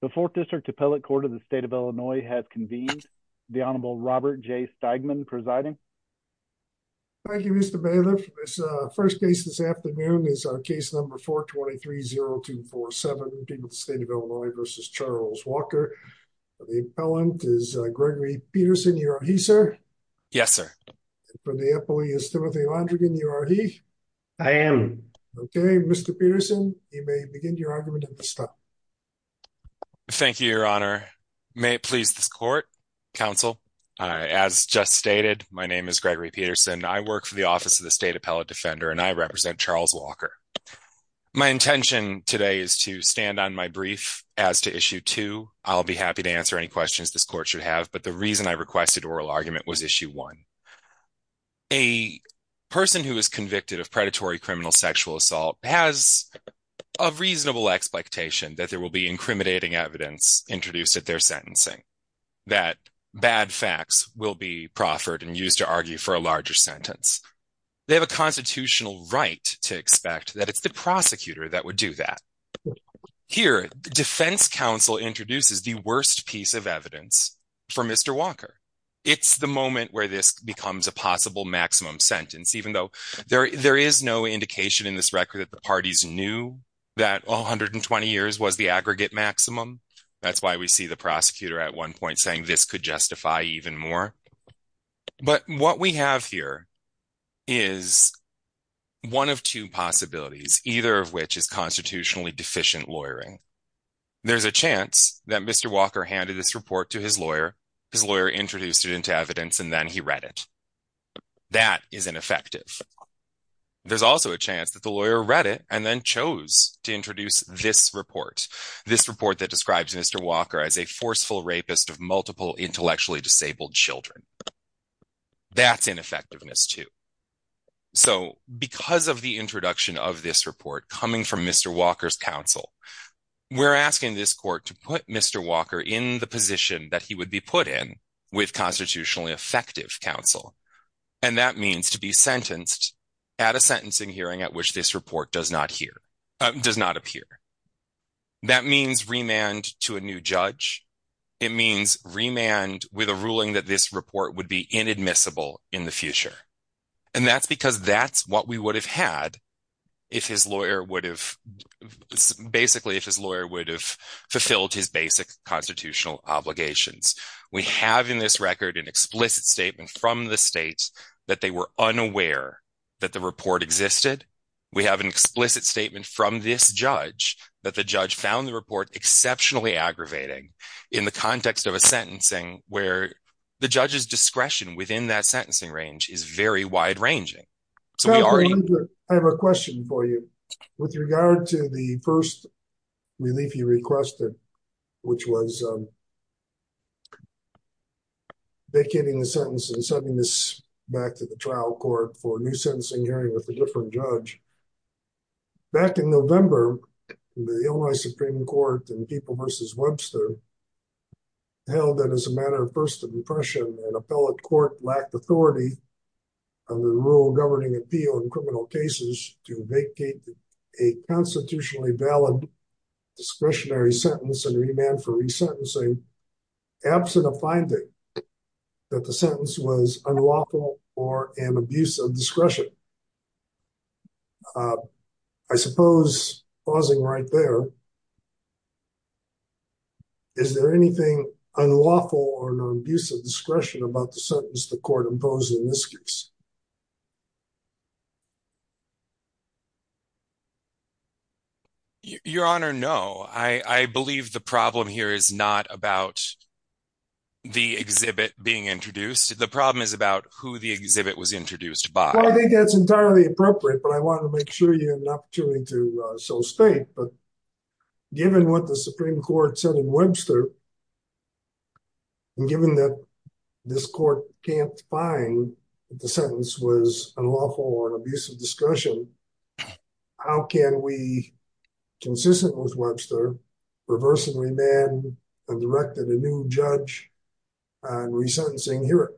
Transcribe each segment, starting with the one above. The Fourth District Appellate Court of the State of Illinois has convened. The Honorable Robert J. Steigman presiding. Thank you, Mr. Bailiff. First case this afternoon is our case number 423-0247, between the State of Illinois versus Charles Walker. The appellant is Gregory Peterson. You are he, sir? Yes, sir. And for the appellee is Timothy Landrigan. You are he? I am. Okay, Mr. Peterson, you may begin your argument at this time. Thank you, Your Honor. May it please this court, counsel. As just stated, my name is Gregory Peterson. I work for the Office of the State Appellate Defender and I represent Charles Walker. My intention today is to stand on my brief as to issue two. I'll be happy to answer any questions this court should have, but the reason I requested oral argument was issue one. A person who is convicted of predatory criminal sexual assault has a reasonable expectation that there will be incriminating evidence introduced at their sentencing, that bad facts will be proffered and used to argue for a larger sentence. They have a constitutional right to expect that it's the prosecutor that would do that. Here, defense counsel introduces the worst piece of evidence for Mr. Walker. It's the moment where this becomes a possible maximum sentence, even though there is no indication in this record that the parties knew that 120 years was the aggregate maximum. That's why we see the prosecutor at one point saying this could justify even more. But what we have here is one of two possibilities, either of which is constitutionally deficient lawyering. There's a chance that Mr. Walker handed this report to his lawyer, his lawyer introduced it into evidence and then he read it. That is ineffective. There's also a chance that the lawyer read it and then chose to introduce this report. This report that describes Mr. Walker as a forceful rapist of multiple intellectually disabled children. That's ineffectiveness too. So because of the introduction of this report coming from Mr. Walker's counsel, we're asking this court to put Mr. Walker in the position that he would be put in with constitutionally effective counsel. And that means to be sentenced at a sentencing hearing at which this report does not appear. That means remand to a new judge. It means remand with a ruling that this report would be inadmissible in the future. And that's because that's what we would have had if his lawyer would have, basically if his lawyer would have fulfilled his basic constitutional obligations. We have in this record an explicit statement from the states that they were unaware that the report existed. We have an explicit statement from this judge that the judge found the report exceptionally aggravating in the context of a sentencing where the judge's discretion within that sentencing range is very wide ranging. So we already- I have a question for you with regard to the first relief you requested, which was vacating the sentence and sending this back to the trial court for a new sentencing hearing with a different judge. Back in November, the Illinois Supreme Court and People versus Webster held that as a matter of first impression, an appellate court lacked authority on the rule governing appeal in criminal cases to vacate a constitutionally valid discretionary sentence and remand for resentencing, absent a finding that the sentence was unlawful or an abuse of discretion. I suppose, pausing right there, is there anything unlawful or an abuse of discretion about the sentence the court imposed in this case? Your Honor, no. I believe the problem here is not about the exhibit being introduced. The problem is about who the exhibit was introduced by. Well, I think that's entirely appropriate, but I wanted to make sure you had an opportunity to so state, but given what the Supreme Court said in Webster and given that this court can't find that the sentence was unlawful or an abuse of discretion, how can we, consistent with Webster, reverse and remand and direct a new judge on resentencing here?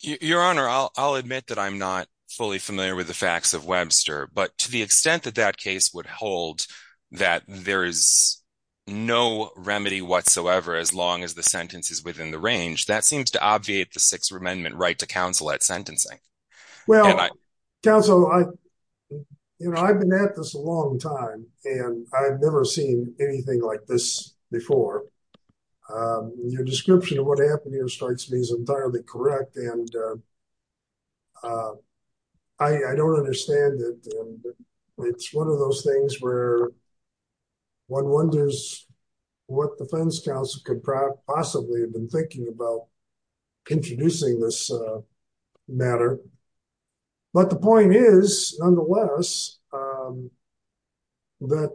Your Honor, I'll admit that I'm not fully familiar with the facts of Webster, but to the extent that that case would hold that there is no remedy whatsoever as long as the sentence is within the range, that seems to obviate the Sixth Amendment right to counsel at sentencing. Well, counsel, I've been at this a long time and I've never seen anything like this before. Your description of what happened here strikes me as entirely correct. And I don't understand that it's one of those things where one wonders what defense counsel could possibly have been thinking about introducing this matter. But the point is, nonetheless, that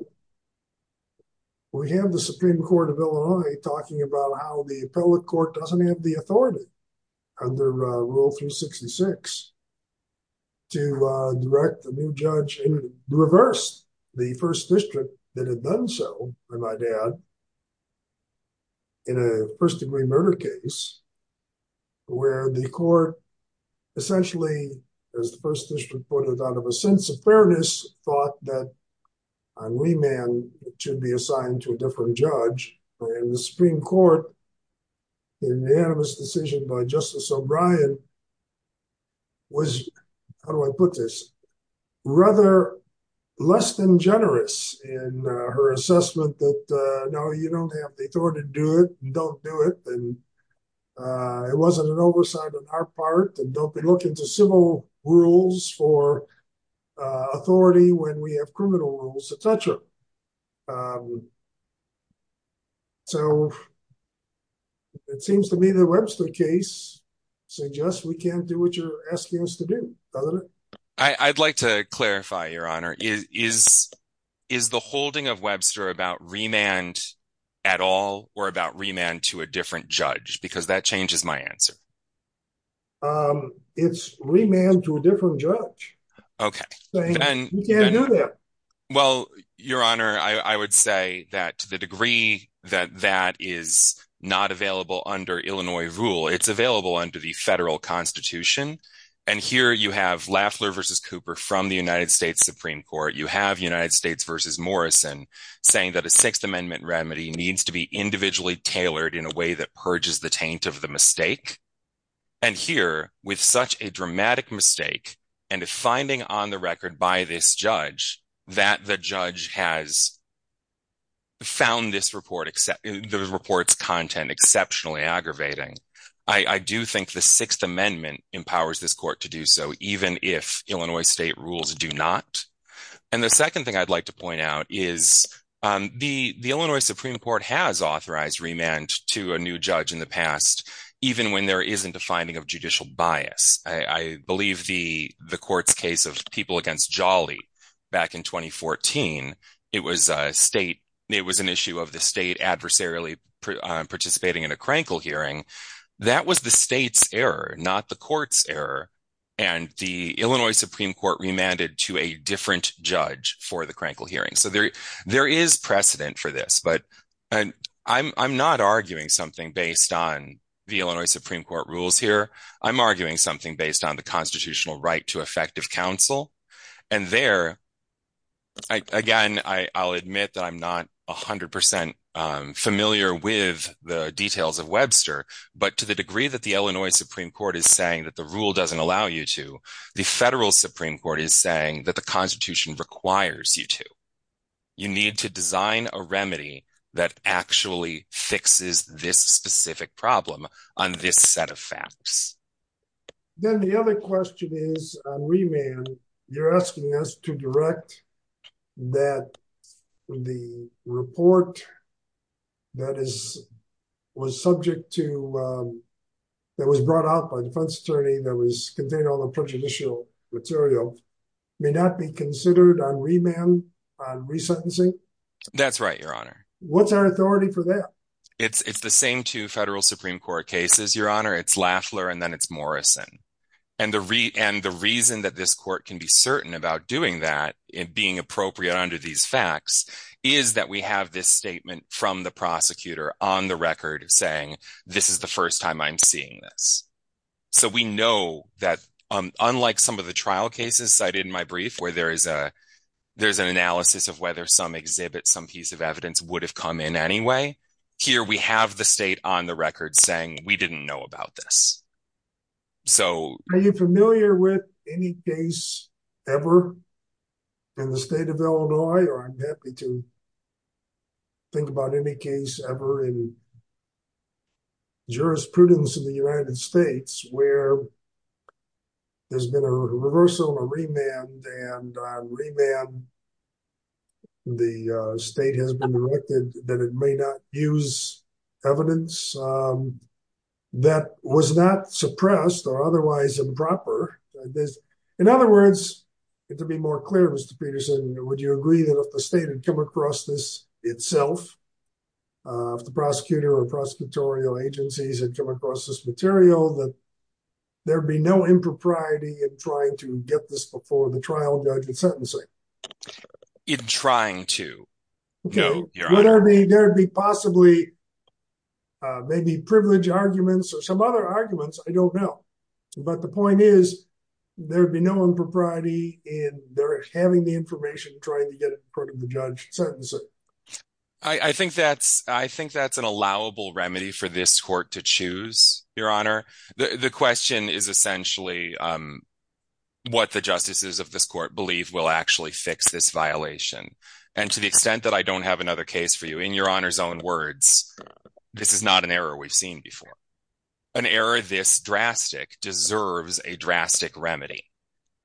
we have the Supreme Court of Illinois talking about how the appellate court doesn't have the authority under Rule 366 to direct the new judge and reverse the first district that had done so by my dad in a first degree murder case where the court essentially, as the first district put it out of a sense of fairness, thought that a wee man should be assigned to a different judge. And the Supreme Court in the animus decision by Justice O'Brien was, how do I put this, rather less than generous in her assessment that no, you don't have the authority to do it and don't do it. And it wasn't an oversight on our part and don't be looking to civil rules for authority when we have criminal rules, et cetera. So it seems to me the Webster case suggests we can't do what you're asking us to do, doesn't it? I'd like to clarify, Your Honor. Is the holding of Webster about remand at all or about remand to a different judge? Because that changes my answer. It's remand to a different judge. Okay. You can't do that. Well, Your Honor, I would say that to the degree that that is not available under Illinois rule, it's available under the federal constitution. And here you have Lafler versus Cooper from the United States Supreme Court. You have United States versus Morrison saying that a Sixth Amendment remedy needs to be individually tailored in a way that purges the taint of the mistake. And here with such a dramatic mistake and a finding on the record by this judge that the judge has found this report, the report's content exceptionally aggravating. I do think the Sixth Amendment empowers this court to do so even if Illinois state rules do not. And the second thing I'd like to point out is the Illinois Supreme Court has authorized remand to a new judge in the past, even when there isn't a finding of judicial bias. I believe the court's case of people against Jolly back in 2014, it was a state, it was an issue of the state adversarially participating in a Krankel hearing. That was the state's error, not the court's error. And the Illinois Supreme Court remanded to a different judge for the Krankel hearing. There is precedent for this, but I'm not arguing something based on the Illinois Supreme Court rules here. I'm arguing something based on the constitutional right to effective counsel. And there, again, I'll admit that I'm not 100% familiar with the details of Webster, but to the degree that the Illinois Supreme Court is saying that the rule doesn't allow you to, the federal Supreme Court is saying that the constitution requires you to. You need to design a remedy that actually fixes this specific problem on this set of facts. Then the other question is on remand, you're asking us to direct that the report that was brought out by the defense attorney that was containing all the prejudicial material may not be considered on remand, on resentencing? That's right, your honor. What's our authority for that? It's the same two federal Supreme Court cases, your honor, it's Lafleur and then it's Morrison. And the reason that this court can be certain about doing that and being appropriate under these facts is that we have this statement from the prosecutor on the record saying, this is the first time I'm seeing this. So we know that unlike some of the trial cases cited in my brief where there's an analysis of whether some exhibit, some piece of evidence would have come in anyway, here we have the state on the record saying, we didn't know about this. So- Are you familiar with any case ever in the state of Illinois? Or I'm happy to think about any case ever in jurisprudence in the United States where there's been a reversal or remand and on remand the state has been directed that it may not use evidence that was not suppressed or otherwise improper. In other words, to be more clear, Mr. Peterson, would you agree that if the state had come across this itself, if the prosecutor or prosecutorial agencies had come across this material, that there'd be no impropriety in trying to get this before the trial judge in sentencing? In trying to? Okay, there'd be possibly maybe privilege arguments or some other arguments, I don't know. But the point is there'd be no impropriety in their having the information trying to get it in front of the judge in sentencing. I think that's an allowable remedy for this court to choose, Your Honor. The question is essentially what the justices of this court believe will actually fix this violation. And to the extent that I don't have another case for you, in Your Honor's own words, this is not an error we've seen before. An error this drastic deserves a drastic remedy.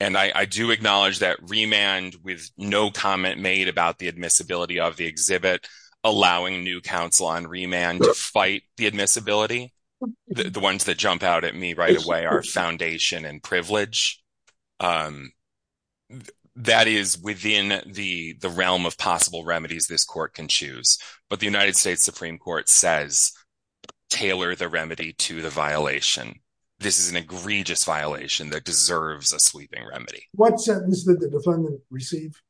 And I do acknowledge that Remand, with no comment made about the admissibility of the exhibit, allowing new counsel on Remand to fight the admissibility, the ones that jump out at me right away are foundation and privilege. That is within the realm of possible remedies this court can choose. But the United States Supreme Court says, tailor the remedy to the violation. This is an egregious violation that deserves a sweeping remedy. What sentence did the defendant receive?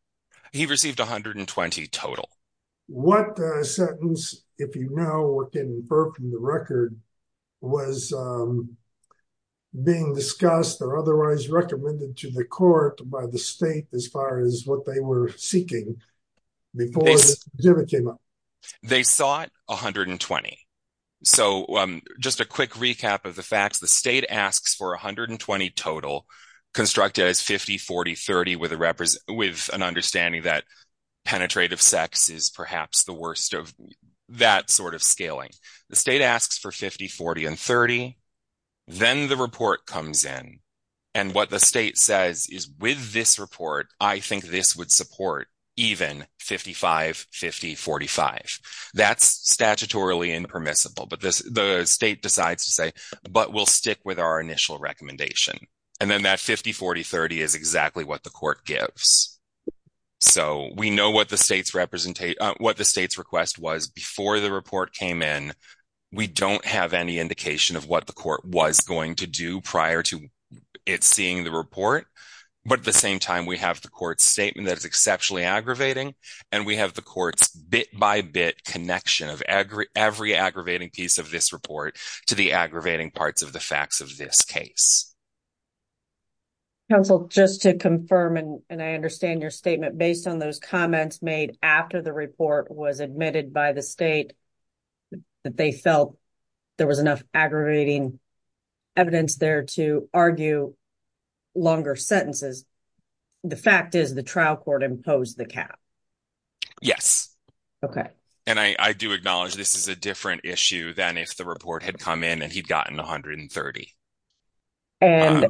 He received 120 total. What sentence, if you know or can infer from the record, was being discussed or otherwise recommended to the court by the state as far as what they were seeking before the exhibit came up? They sought 120. So just a quick recap of the facts. The state asks for 120 total, constructed as 50, 40, 30, with an understanding that penetrative sex is perhaps the worst of that sort of scaling. The state asks for 50, 40, and 30. Then the report comes in. And what the state says is with this report, I think this would support even 55, 50, 45. That's statutorily impermissible, but the state decides to say, but we'll stick with our initial recommendation. And then that 50, 40, 30 is exactly what the court gives. So we know what the state's request was before the report came in. We don't have any indication of what the court was going to do prior to it seeing the report. But at the same time, we have the court's statement that is exceptionally aggravating, and we have the court's bit-by-bit connection of every aggravating piece of this report to the aggravating parts of the facts of this case. Council, just to confirm, and I understand your statement based on those comments made after the report was admitted by the state that they felt there was enough aggravating evidence there to argue longer sentences. The fact is the trial court imposed the cap. Yes. Okay. And I do acknowledge this is a different issue than if the report had come in and he'd gotten 130. And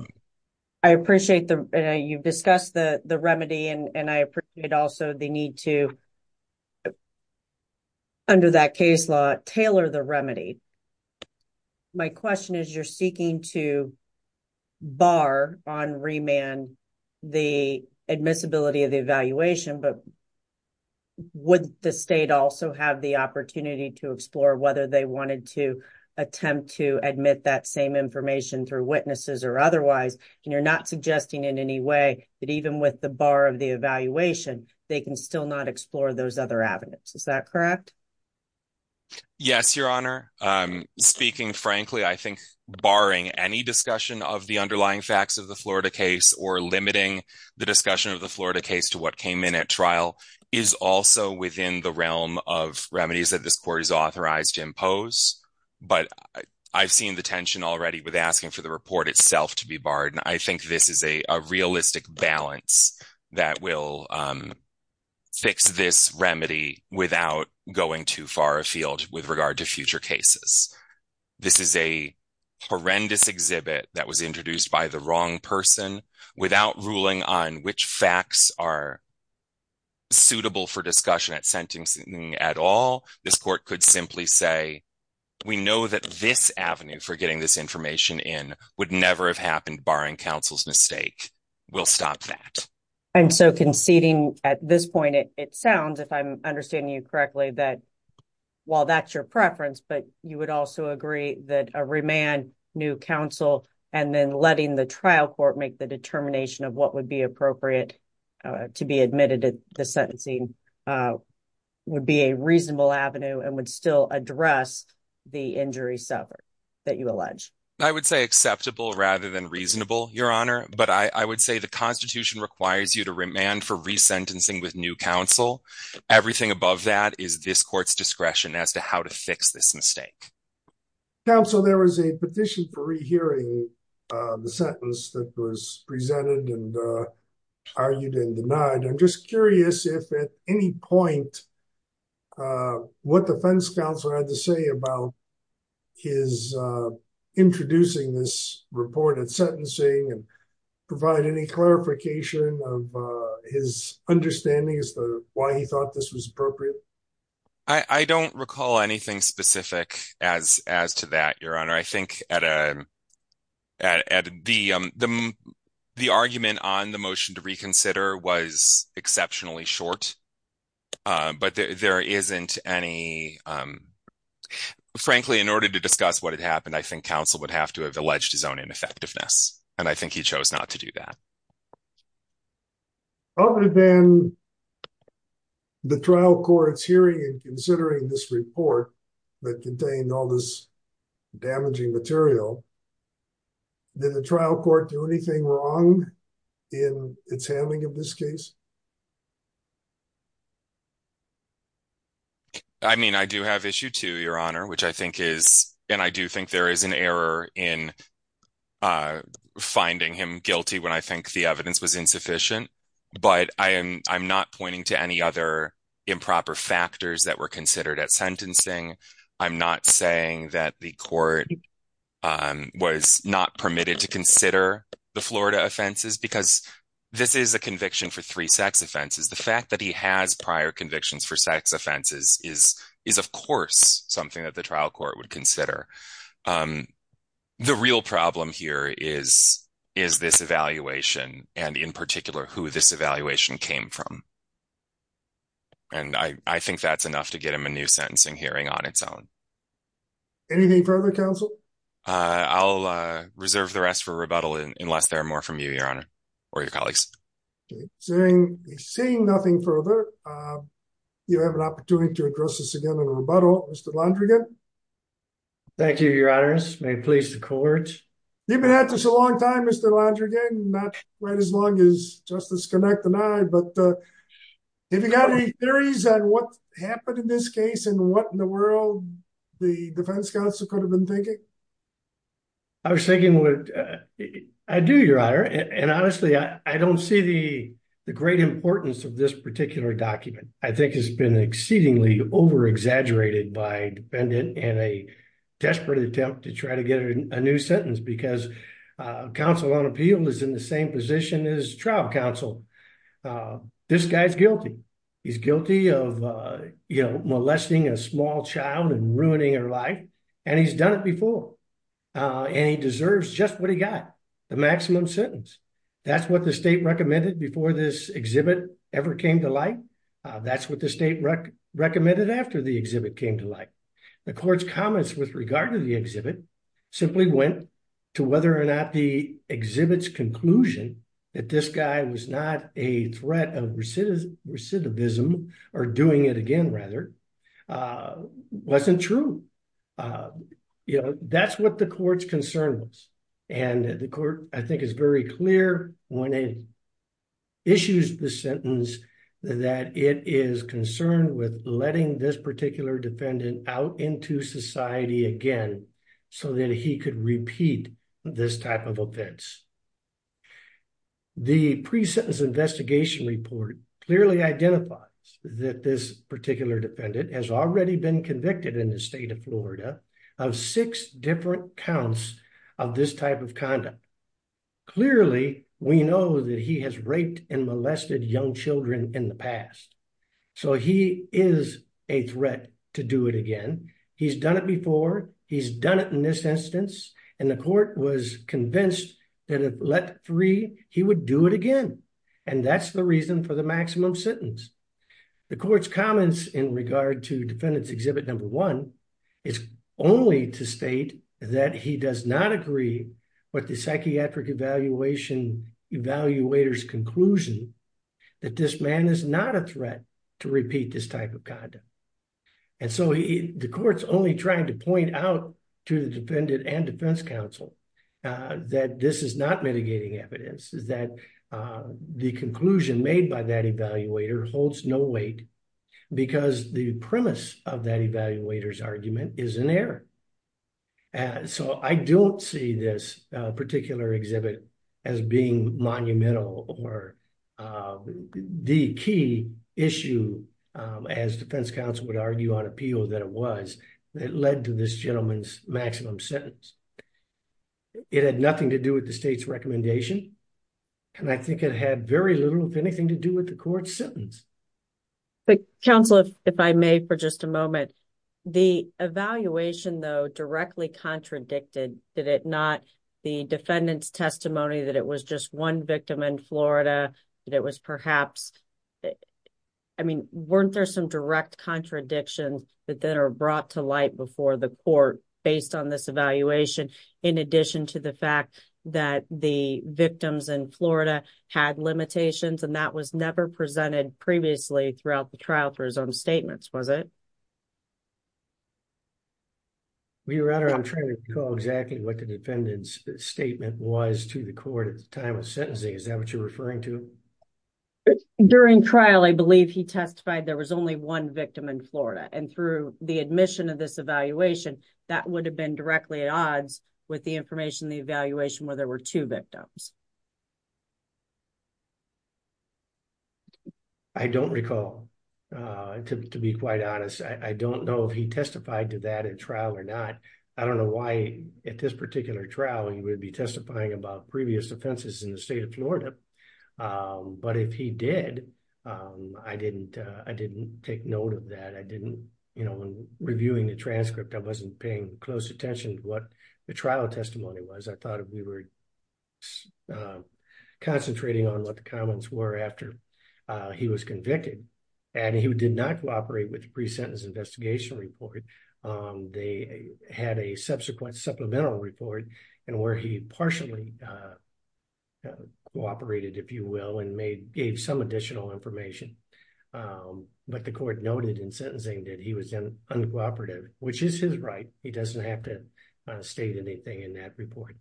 I appreciate that you've discussed the remedy, and I appreciate also the need to, under that case law, tailor the remedy. My question is, you're seeking to bar on remand the admissibility of the evaluation, but would the state also have the opportunity to explore whether they wanted to attempt to admit that same information through witnesses or otherwise? And you're not suggesting in any way that even with the bar of the evaluation, they can still not explore those other avenues. Is that correct? Yes, Your Honor. Speaking frankly, I think barring any discussion of the underlying facts of the Florida case or limiting the discussion of the Florida case to what came in at trial is also within the realm of remedies that this court is authorized to impose. But I've seen the tension already with asking for the report itself to be barred. And I think this is a realistic balance that will fix this remedy without going too far afield with regard to future cases. This is a horrendous exhibit that was introduced by the wrong person without ruling on which facts are suitable for discussion at sentencing at all. This court could simply say, we know that this avenue for getting this information in would never have happened barring counsel's mistake. We'll stop that. And so conceding at this point, it sounds if I'm understanding you correctly, that while that's your preference, but you would also agree that a remand, new counsel, and then letting the trial court make the determination of what would be appropriate to be admitted at the sentencing would be a reasonable avenue and would still address the injury suffered that you allege. I would say acceptable rather than reasonable, Your Honor. But I would say the constitution requires you to remand for resentencing with new counsel. Everything above that is this court's discretion as to how to fix this mistake. Counsel, there was a petition for rehearing the sentence that was presented and argued and denied. I'm just curious if at any point what defense counsel had to say about his introducing this report at sentencing and provide any clarification of his understanding as to why he thought this was appropriate. I don't recall anything specific as to that, Your Honor. I think the argument on the motion to reconsider was exceptionally short, but there isn't any... Frankly, in order to discuss what had happened, I think counsel would have to have alleged his own ineffectiveness. And I think he chose not to do that. Other than the trial court's hearing and considering this report that contained all this damaging material, did the trial court do anything wrong in its handling of this case? I mean, I do have issue two, Your Honor, which I think is... And I do think there is an error in finding him guilty when I think the evidence was insufficient, but I'm not pointing to any other improper factors that were considered at sentencing. I'm not saying that the court was not permitted to consider the Florida offenses, because this is a conviction for three sex offenses. The fact that he has prior convictions for sex offenses is of course something that the trial court would consider. The real problem here is this evaluation and in particular, who this evaluation came from. And I think that's enough to get him a new sentencing hearing on its own. Anything further, counsel? I'll reserve the rest for rebuttal unless there are more from you, Your Honor, or your colleagues. Seeing nothing further, you have an opportunity to address this again in a rebuttal, Mr. Landrigan. Thank you, Your Honor. This may please the court. You've been at this a long time, Mr. Landrigan, not quite as long as Justice Connacht and I, but have you got any theories on what happened in this case and what in the world the defense counsel could have been thinking? I was thinking what... I do, Your Honor. And honestly, I don't see the great importance of this particular document. I think it's been exceedingly over-exaggerated by a defendant in a desperate attempt to try to get a new sentence because counsel on appeal is in the same position as trial counsel. This guy's guilty. He's guilty of molesting a small child and ruining her life, and he's done it before. And he deserves just what he got, the maximum sentence. That's what the state recommended before this exhibit ever came to light. That's what the state recommended after the exhibit came to light. The court's comments with regard to the exhibit simply went to whether or not the exhibit's conclusion that this guy was not a threat of recidivism or doing it again, rather, wasn't true. That's what the court's concern was. And the court, I think, is very clear when it issues the sentence that it is concerned with letting this particular defendant out into society again so that he could repeat this type of offense. The pre-sentence investigation report clearly identifies that this particular defendant has already been convicted in the state of Florida of six different counts of this type of conduct. Clearly, we know that he has raped and molested young children in the past. So he is a threat to do it again. He's done it before. He's done it in this instance. And the court was convinced that if let free, he would do it again. And that's the reason for the maximum sentence. The court's comments in regard to defendant's exhibit number one is only to state that he does not agree with the psychiatric evaluator's conclusion that this man is not a threat to repeat this type of conduct. And so the court's only trying to point out to the defendant and defense counsel that this is not mitigating evidence, is that the conclusion made by that evaluator holds no weight because the premise of that evaluator's argument is an error. So I don't see this particular exhibit as being monumental or the key issue as defense counsel would argue on appeal that it was that led to this gentleman's maximum sentence. It had nothing to do with the state's recommendation. And I think it had very little, if anything, to do with the court's sentence. But counsel, if I may, for just a moment, the evaluation though directly contradicted, did it not, the defendant's testimony that it was just one victim in Florida, that it was perhaps, I mean, weren't there some direct contradictions that then are brought to light before the court based on this evaluation in addition to the fact that the victims in Florida had limitations and that was never presented previously throughout the trial for his own statements, was it? Well, Your Honor, I'm trying to recall exactly what the defendant's statement was to the court at the time of sentencing. Is that what you're referring to? During trial, I believe he testified there was only one victim in Florida and through the admission of this evaluation, that would have been directly at odds with the information in the evaluation where there were two victims. I don't recall, to be quite honest. I don't know if he testified to that in trial or not. I don't know why at this particular trial he would be testifying about previous offenses in the state of Florida. But if he did, I didn't take note of that. I didn't, when reviewing the transcript, I wasn't paying close attention to what the trial testimony was. I thought if we were concentrating on what the comments were after he was convicted and he did not cooperate with the pre-sentence investigation report, they had a subsequent supplemental report and where he partially cooperated, if you will, and gave some additional information. But the court noted in sentencing that he was uncooperative, which is his right. He doesn't have to state anything in that report.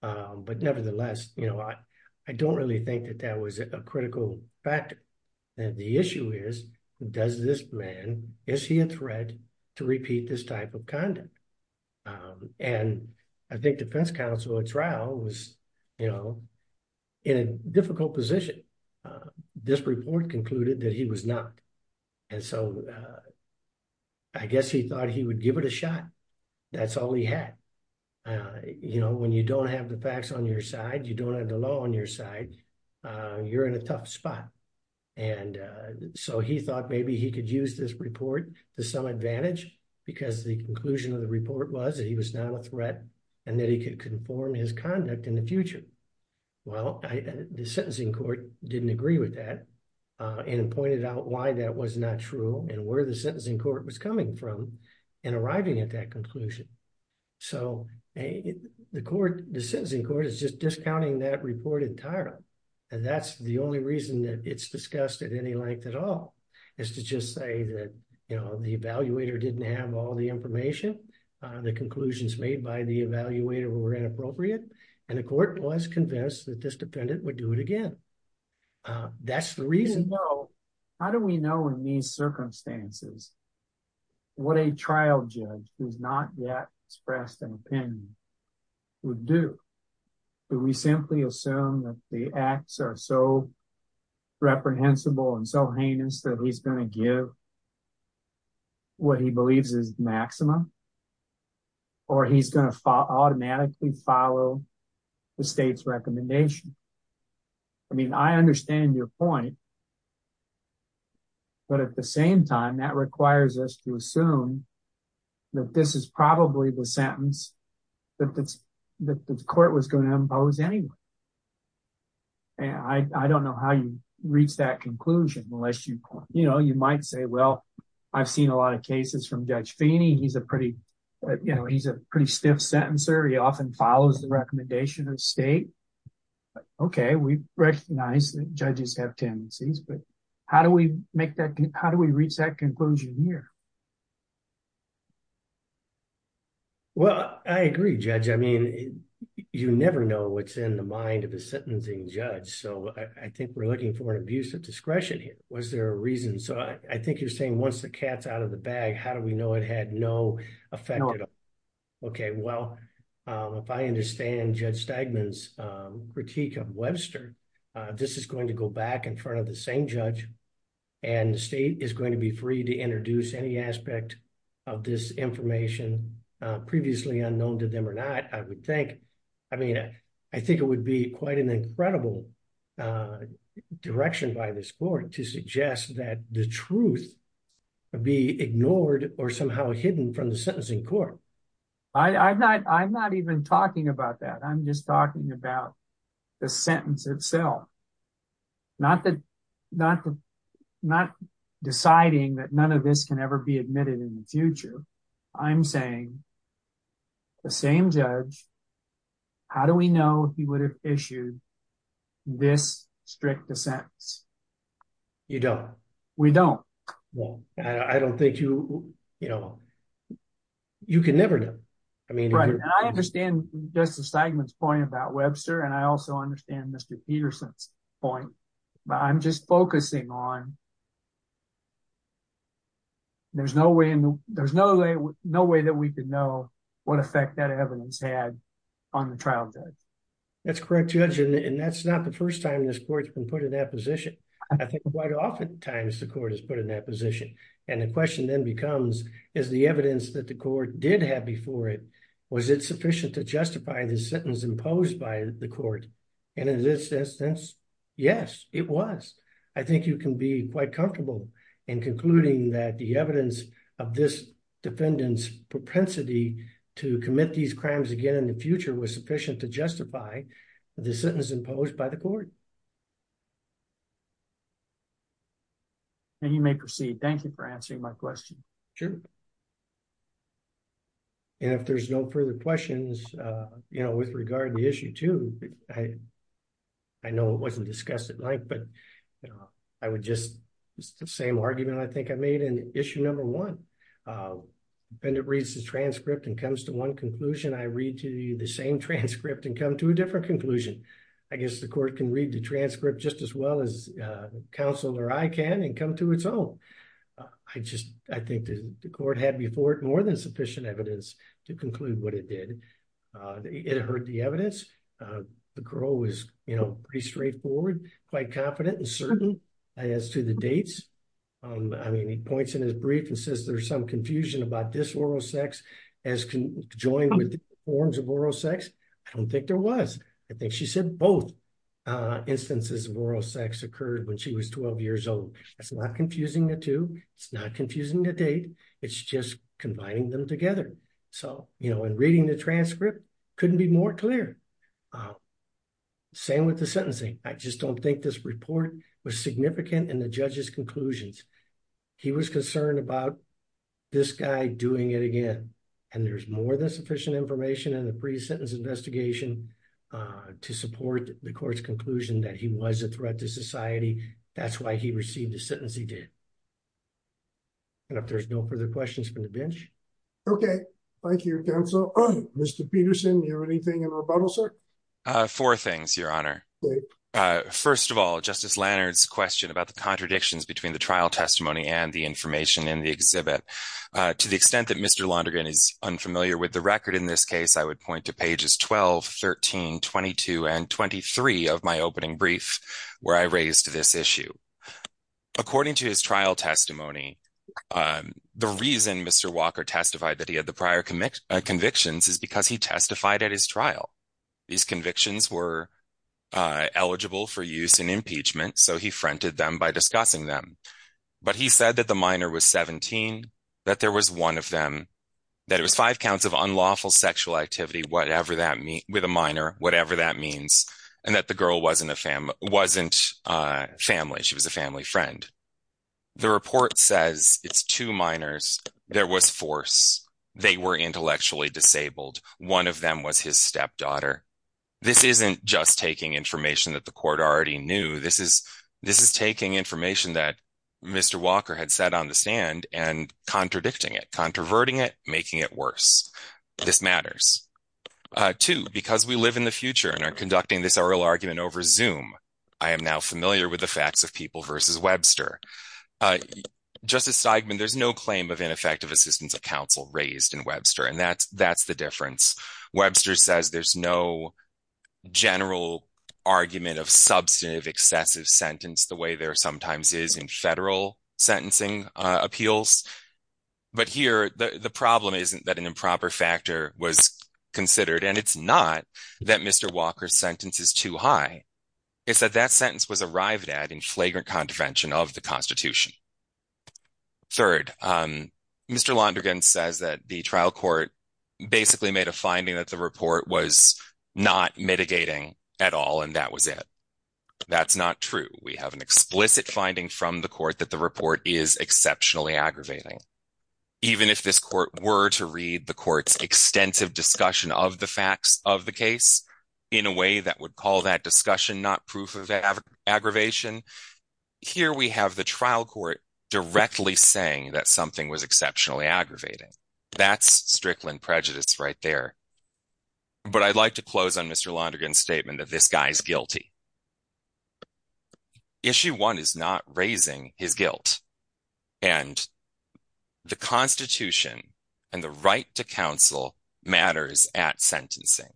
But nevertheless, I don't really think that that was a critical factor. The issue is, does this man, is he a threat to repeat this type of conduct? And I think defense counsel at trial was in a difficult position. This report concluded that he was not. And so I guess he thought he would give it a shot. That's all he had. When you don't have the facts on your side, you don't have the law on your side, you're in a tough spot. And so he thought maybe he could use this report to some advantage because the conclusion of the report was that he was not a threat and that he could conform his conduct in the future. Well, the sentencing court didn't agree with that and pointed out why that was not true and where the sentencing court was coming from in arriving at that conclusion. So the court, the sentencing court is just discounting that reported title. And that's the only reason that it's discussed at any length at all is to just say that the evaluator didn't have all the information, the conclusions made by the evaluator were inappropriate. And the court was convinced that this defendant would do it again. That's the reason. How do we know in these circumstances what a trial judge who's not yet expressed an opinion would do? Do we simply assume that the acts are so reprehensible and so heinous that he's gonna give what he believes is maxima or he's gonna automatically follow the state's recommendation? I mean, I understand your point, but at the same time, that requires us to assume that this is probably the sentence that the court was gonna impose anyway. And I don't know how you reach that conclusion unless you, you know, you might say, well, I've seen a lot of cases from Judge Feeney. He's a pretty, you know, he's a pretty stiff sentencer. He often follows the recommendation of state. Okay, we recognize that judges have tendencies, but how do we make that, how do we reach that conclusion here? Well, I agree, Judge. I mean, you never know what's in the mind of a sentencing judge. So I think we're looking for an abuse of discretion here. Was there a reason? So I think you're saying once the cat's out of the bag, how do we know it had no effect at all? Okay, well, if I understand Judge Stegman's critique of Webster, this is going to go back in front of the same judge and the state is going to be free to introduce any aspect of this information previously unknown to them or not. I would think, I mean, I think it would be quite an incredible direction by this court to suggest that the truth would be ignored or somehow hidden from the sentencing court. I'm not even talking about that. I'm just talking about the sentence itself. Not deciding that none of this can ever be admitted in the future. I'm saying the same judge, how do we know he would have issued this strict a sentence? You don't. We don't. Well, I don't think you, you know, you can never know. I mean- I understand Justice Stegman's point about Webster and I also understand Mr. Peterson's point, but I'm just focusing on, there's no way that we could know what effect that evidence had on the trial judge. That's correct, Judge, and that's not the first time this court has been put in that position. I think quite oftentimes the court has been put in that position. And the question then becomes, is the evidence that the court did have before it, was it sufficient to justify the sentence imposed by the court? And in this instance, yes, it was. I think you can be quite confident and comfortable in concluding that the evidence of this defendant's propensity to commit these crimes again in the future was sufficient to justify the sentence imposed by the court. And you may proceed. Thank you for answering my question. Sure. And if there's no further questions, you know, with regard to the issue too, I know it wasn't discussed at length, but I would just, it's the same argument I think I made in issue number one. Defendant reads the transcript and comes to one conclusion. I read to you the same transcript and come to a different conclusion. I guess the court can read the transcript just as well as counsel or I can and come to its own. I just, I think the court had before it more than sufficient evidence to conclude what it did. It heard the evidence. The parole was, you know, pretty straightforward, quite confident and certain as to the dates. I mean, he points in his brief and says there's some confusion about this oral sex as conjoined with forms of oral sex. I don't think there was. I think she said both instances of oral sex occurred when she was 12 years old. That's not confusing the two. It's not confusing the date. It's just combining them together. So, you know, in reading the transcript, couldn't be more clear. Same with the sentencing. I just don't think this report was significant in the judge's conclusions. He was concerned about this guy doing it again. And there's more than sufficient information in the pre-sentence investigation to support the court's conclusion that he was a threat to society. That's why he received a sentence he did. And if there's no further questions from the bench. Okay. Thank you, counsel. Mr. Peterson, you have anything in rebuttal, sir? Four things, your honor. First of all, Justice Lannert's question about the contradictions between the trial testimony and the information in the exhibit. To the extent that Mr. Londergan is unfamiliar with the record in this case, I would point to pages 12, 13, 22, and 23 of my opening brief where I raised this issue. According to his trial testimony, the reason Mr. Walker testified that he had the prior convictions is because he testified at his trial. These convictions were eligible for use in impeachment, so he fronted them by discussing them. But he said that the minor was 17, that there was one of them, that it was five counts of unlawful sexual activity, whatever that means, with a minor, whatever that means, and that the girl wasn't family. She was a family friend. The report says it's two minors. There was force. They were intellectually disabled. One of them was his stepdaughter. This isn't just taking information that the court already knew. This is taking information that Mr. Walker had set on the stand and contradicting it, controverting it, making it worse. This matters. Two, because we live in the future and are conducting this oral argument over Zoom, I am now familiar with the facts of People v. Webster. Justice Steigman, there's no claim of ineffective assistance of counsel raised in Webster, and that's the difference. Webster says there's no general argument of substantive excessive sentence the way there sometimes is in federal sentencing appeals. But here, the problem isn't that an improper factor was considered, and it's not that Mr. Walker's sentence is too high. It's that that sentence was arrived at in flagrant contravention of the Constitution. Third, Mr. Londrigan says that the trial court basically made a finding that the report was not mitigating at all, and that was it. That's not true. We have an explicit finding from the court that the report is exceptionally aggravating. Even if this court were to read the court's extensive discussion of the facts of the case in a way that would call that discussion not proof of aggravation, here we have the trial court directly saying that something was exceptionally aggravating. That's Strickland prejudice right there. But I'd like to close on Mr. Londrigan's statement that this guy's guilty. Issue one is not raising his guilt, and the Constitution and the right to counsel matters at sentencing.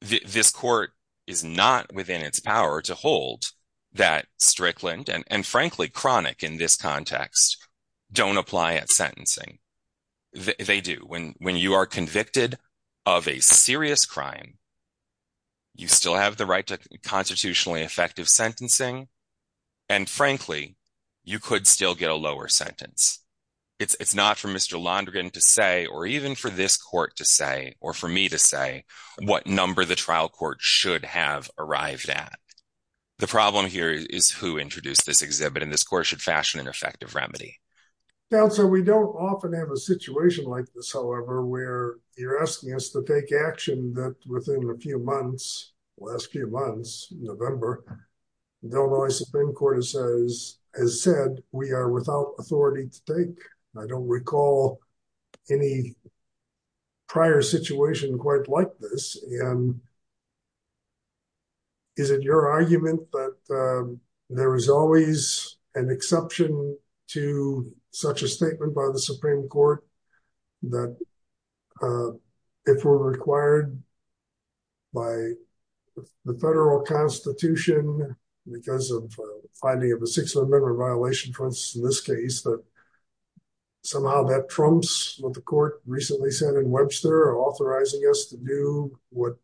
This court is not within its power to hold that Strickland, and frankly, Cronic in this context, don't apply at sentencing. They do. When you are convicted of a serious crime, you still have the right to constitutionally effective sentencing, and frankly, you could still get a lower sentence. It's not for Mr. Londrigan to say, or even for this court to say, or for me to say, what number the trial court should have arrived at. The problem here is who introduced this exhibit, and this court should fashion an effective remedy. Now, so we don't often have a situation like this, however, where you're asking us to take action that within a few months, last few months, November, the Illinois Supreme Court has said, we are without authority to take. I don't recall any prior situation quite like this, and is it your argument that there is always an exception to such a statement by the Supreme Court that if we're required by the federal constitution because of finding of a six-member violation, for instance, in this case, that somehow that trumps what the court recently said and Webster authorizing us to do what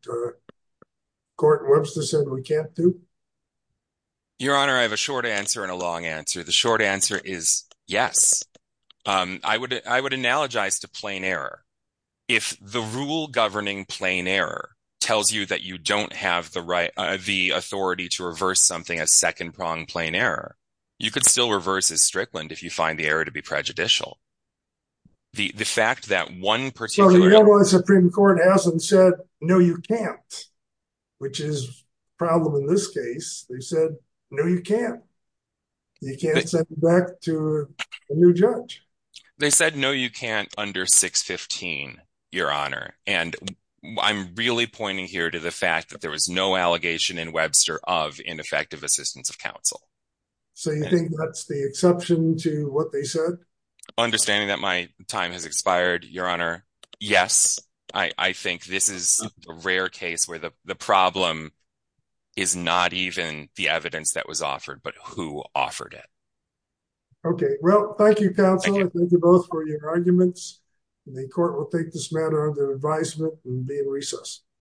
Court Webster said we can't do? Your Honor, I have a short answer and a long answer. The short answer is yes. I would analogize to plain error. If the rule governing plain error tells you that you don't have the authority to reverse something as second-pronged plain error, you could still reverse as Strickland if you find the error to be prejudicial. The fact that one particular- The Illinois Supreme Court hasn't said, no, you can't, which is a problem in this case. They said, no, you can't. You can't send it back to a new judge. They said, no, you can't under 615, Your Honor. And I'm really pointing here to the fact that there was no allegation in Webster of ineffective assistance of counsel. So you think that's the exception to what they said? Understanding that my time has expired, Your Honor, yes. I think this is a rare case where the problem is not even the evidence that was offered, but who offered it. Okay, well, thank you, counsel. Thank you both for your arguments. The court will take this matter under advisement and be in recess.